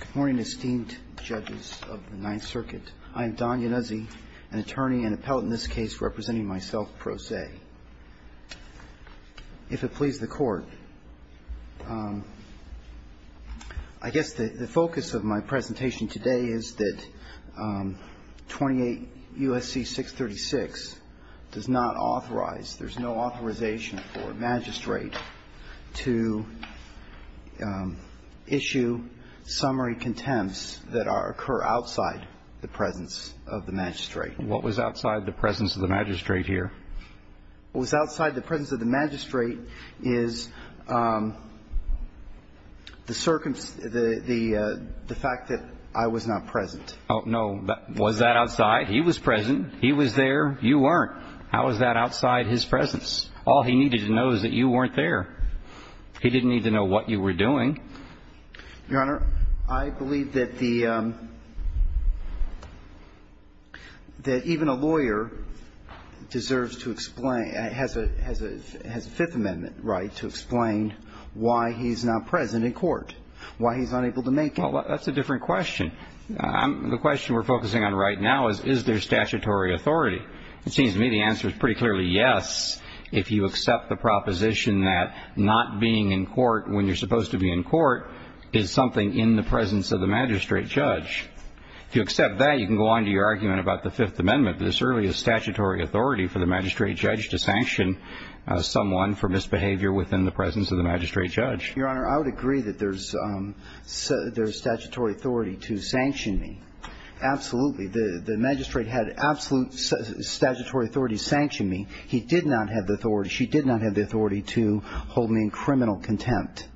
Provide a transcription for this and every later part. Good morning, esteemed judges of the Ninth Circuit. I am Don Ianuzi, an attorney and appellate in this case representing myself pro se. If it please the Court, I guess the focus of my presentation today is that 28 U.S.C. 636 does not authorize, there's no authorization for a magistrate to issue summary contempts that occur outside the presence of the magistrate. What was outside the presence of the magistrate here? What was outside the presence of the magistrate is the fact that I was not present. Oh, no. Was that outside? He was present. He was there. You weren't. How is that outside his presence? All he needed to know is that you weren't there. He didn't need to know what you were doing. Your Honor, I believe that the, that even a lawyer deserves to explain, has a Fifth Amendment right to explain why he's not present in court, why he's unable to make it. Well, that's a different question. The question we're focusing on right now is, is there statutory authority? It seems to me the answer is pretty clearly yes if you accept the proposition that not being in court when you're supposed to be in court is something in the presence of the magistrate judge. If you accept that, you can go on to your argument about the Fifth Amendment. This really is statutory authority for the magistrate judge to sanction someone for misbehavior within the presence of the magistrate judge. Your Honor, I would agree that there's statutory authority to sanction me. Absolutely. The magistrate had absolute statutory authority to sanction me. He did not have the authority, she did not have the authority to hold me in criminal contempt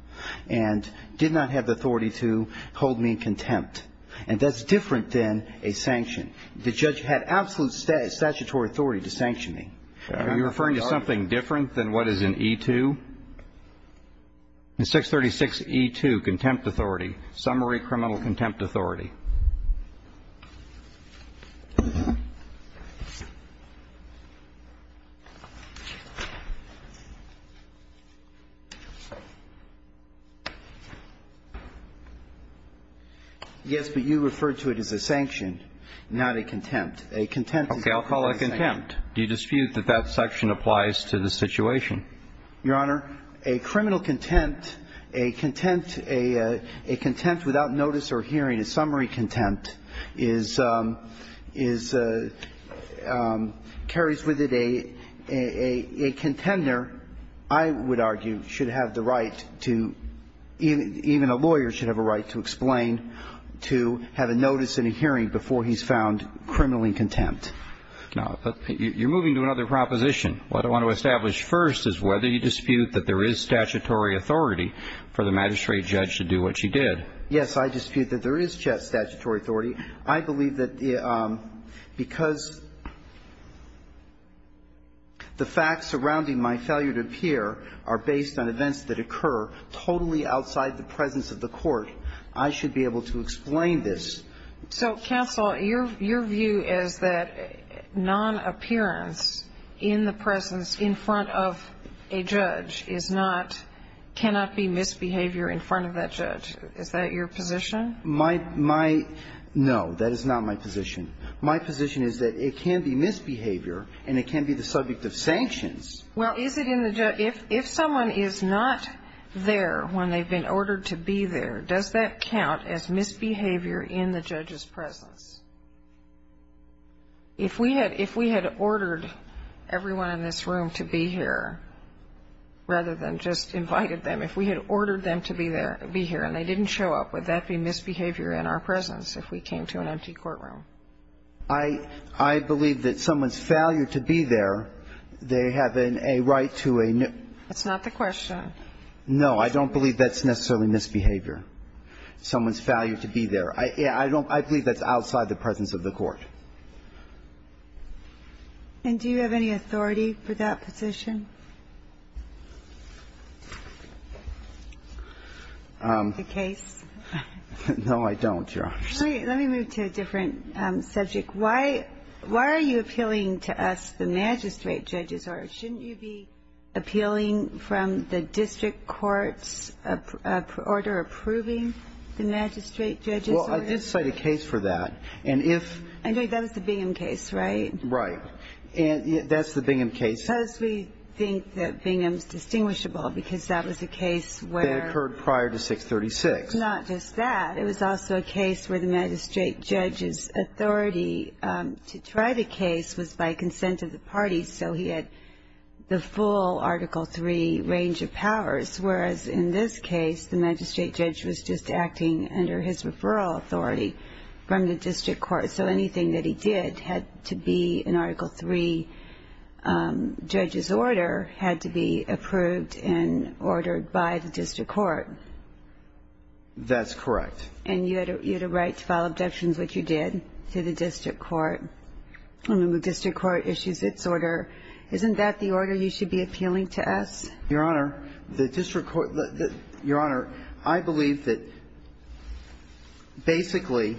and did not have the authority to hold me in contempt. And that's different than a sanction. The judge had absolute statutory authority to sanction me. Are you referring to something different than what is in E-2? The 636 E-2, contempt authority, summary criminal contempt authority. Yes, but you referred to it as a sanction, not a contempt. Okay, I'll call it contempt. Do you dispute that that section applies to the situation? Your Honor, a criminal contempt, a contempt without notice or hearing, a summary contempt is – carries with it a contender, I would argue, should have the right to – even a lawyer should have a right to explain to have a notice and a hearing before he's found criminally contempt. Now, you're moving to another proposition. What I want to establish first is whether you dispute that there is statutory authority for the magistrate judge to do what she did. Yes, I dispute that there is statutory authority. I believe that because the facts surrounding my failure to appear are based on events that occur totally outside the presence of the court, I should be able to explain this. So, counsel, your view is that non-appearance in the presence in front of a judge is not – cannot be misbehavior in front of that judge. Is that your position? My – no, that is not my position. My position is that it can be misbehavior and it can be the subject of sanctions. Well, is it in the – if someone is not there when they've been ordered to be there, does that count as misbehavior in the judge's presence? If we had – if we had ordered everyone in this room to be here rather than just invited them, if we had ordered them to be there – be here and they didn't show up, would that be misbehavior in our presence if we came to an empty courtroom? I – I believe that someone's failure to be there, they have a right to a – That's not the question. No. I don't believe that's necessarily misbehavior, someone's failure to be there. I don't – I believe that's outside the presence of the court. And do you have any authority for that position? The case? No, I don't, Your Honor. Let me – let me move to a different subject. Why – why are you appealing to us, the magistrate judges, or shouldn't you be appealing from the district court's order approving the magistrate judges? Well, I did cite a case for that. And if – And that was the Bingham case, right? Right. And that's the Bingham case. Because we think that Bingham's distinguishable because that was a case where – That occurred prior to 636. Not just that. It was also a case where the magistrate judge's authority to try the case was by consent of the parties, so he had the full Article III range of powers, whereas in this case, the magistrate judge was just acting under his referral authority from the district court. So anything that he did had to be an Article III judge's order, had to be approved and ordered by the district court. That's correct. And you had a right to file objections, which you did, to the district court. When the district court issues its order, isn't that the order you should be appealing to us? Your Honor, the district court – Your Honor, I believe that basically,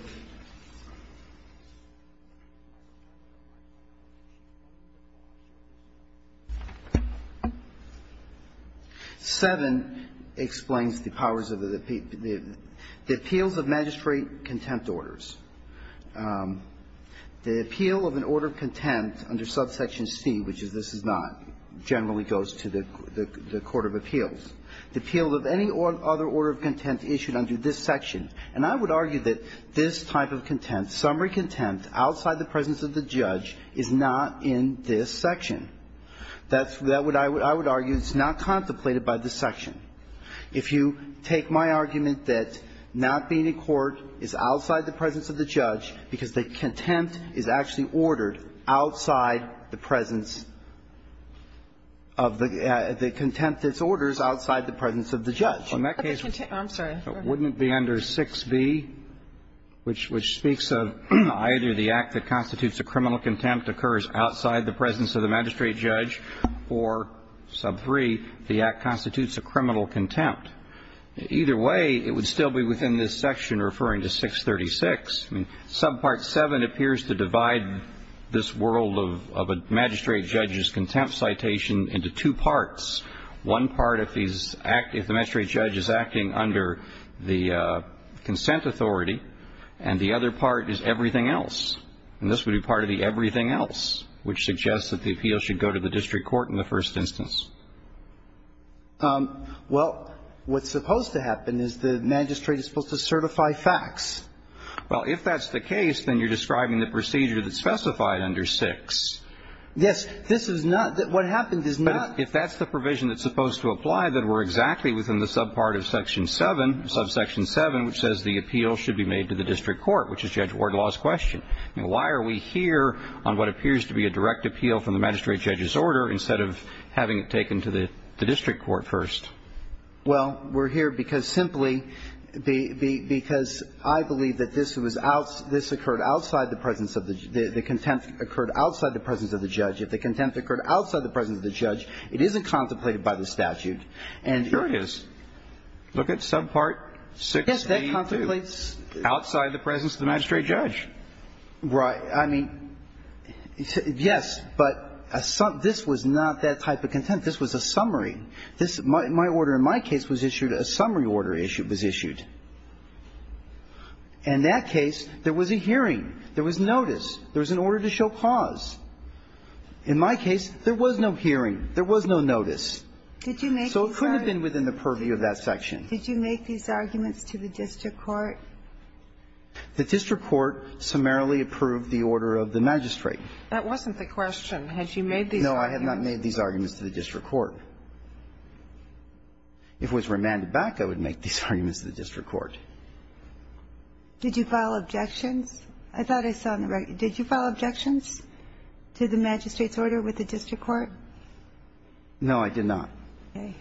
7 explains the powers of the – the appeals of magistrate contempt orders. The appeal of an order of contempt under subsection C, which is this is not, generally goes to the court of appeals. The appeal of any other order of contempt issued under this section. And I would argue that this type of contempt, summary contempt outside the presence of the judge, is not in this section. That's – that's what I would argue. It's not contemplated by this section. If you take my argument that not being in court is outside the presence of the judge because the contempt is actually ordered outside the presence of the – the contempt that's ordered is outside the presence of the judge. In that case, wouldn't it be under 6b, which – which speaks of either the act that constitutes a criminal contempt occurs outside the presence of the magistrate judge, or sub 3, the act constitutes a criminal contempt. Either way, it would still be within this section referring to 636. I mean, sub part 7 appears to divide this world of a magistrate judge's contempt citation into two parts. One part of these – if the magistrate judge is acting under the consent authority, and the other part is everything else. And this would be part of the everything else, which suggests that the appeal should go to the district court in the first instance. Well, what's supposed to happen is the magistrate is supposed to certify facts. Well, if that's the case, then you're describing the procedure that's specified under 6. Yes. This is not – what happens is not – But if that's the provision that's supposed to apply, then we're exactly within the sub part of section 7, sub section 7, which says the appeal should be made to the district court, which is Judge Wardlaw's question. I mean, why are we here on what appears to be a direct appeal from the magistrate judge's order instead of having it taken to the district court first? Well, we're here because simply the – because I believe that this was – this occurred outside the presence of the – the contempt occurred outside the presence of the judge. If the contempt occurred outside the presence of the judge, it isn't contemplated by the statute. And here it is. Look at sub part 6A2. Yes, that contemplates – Outside the presence of the magistrate judge. Right. I mean, yes, but this was not that type of contempt. This was a summary. This – my order in my case was issued – a summary order issue was issued. In that case, there was a hearing. There was notice. There was an order to show cause. In my case, there was no hearing. There was no notice. So it couldn't have been within the purview of that section. Did you make these arguments to the district court? The district court summarily approved the order of the magistrate. That wasn't the question. Had you made these arguments? No, I have not made these arguments to the district court. If it was remanded back, I would make these arguments to the district court. Did you file objections? I thought I saw on the record. Did you file objections to the magistrate's order with the district court? No, I did not. Okay.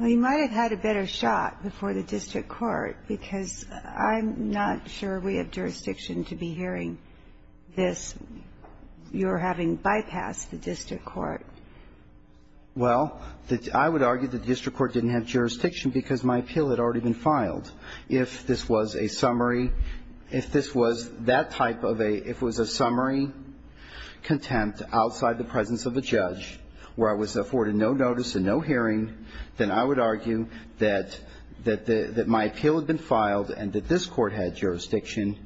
Well, you might have had a better shot before the district court because I'm not sure we have jurisdiction to be hearing this. You're having bypassed the district court. Well, I would argue that the district court didn't have jurisdiction because my appeal had already been filed. If this was a summary, if this was that type of a, if it was a summary contempt outside the presence of a judge where I was afforded no notice and no hearing, then I would argue that my appeal had been filed and that this court had jurisdiction,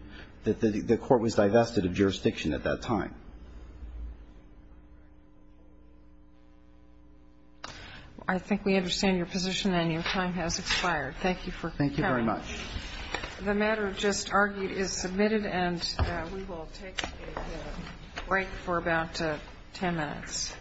that the court was divested of jurisdiction at that time. I think we understand your position, and your time has expired. Thank you for coming. Thank you very much. The matter just argued is submitted, and we will take a break for about 10 minutes.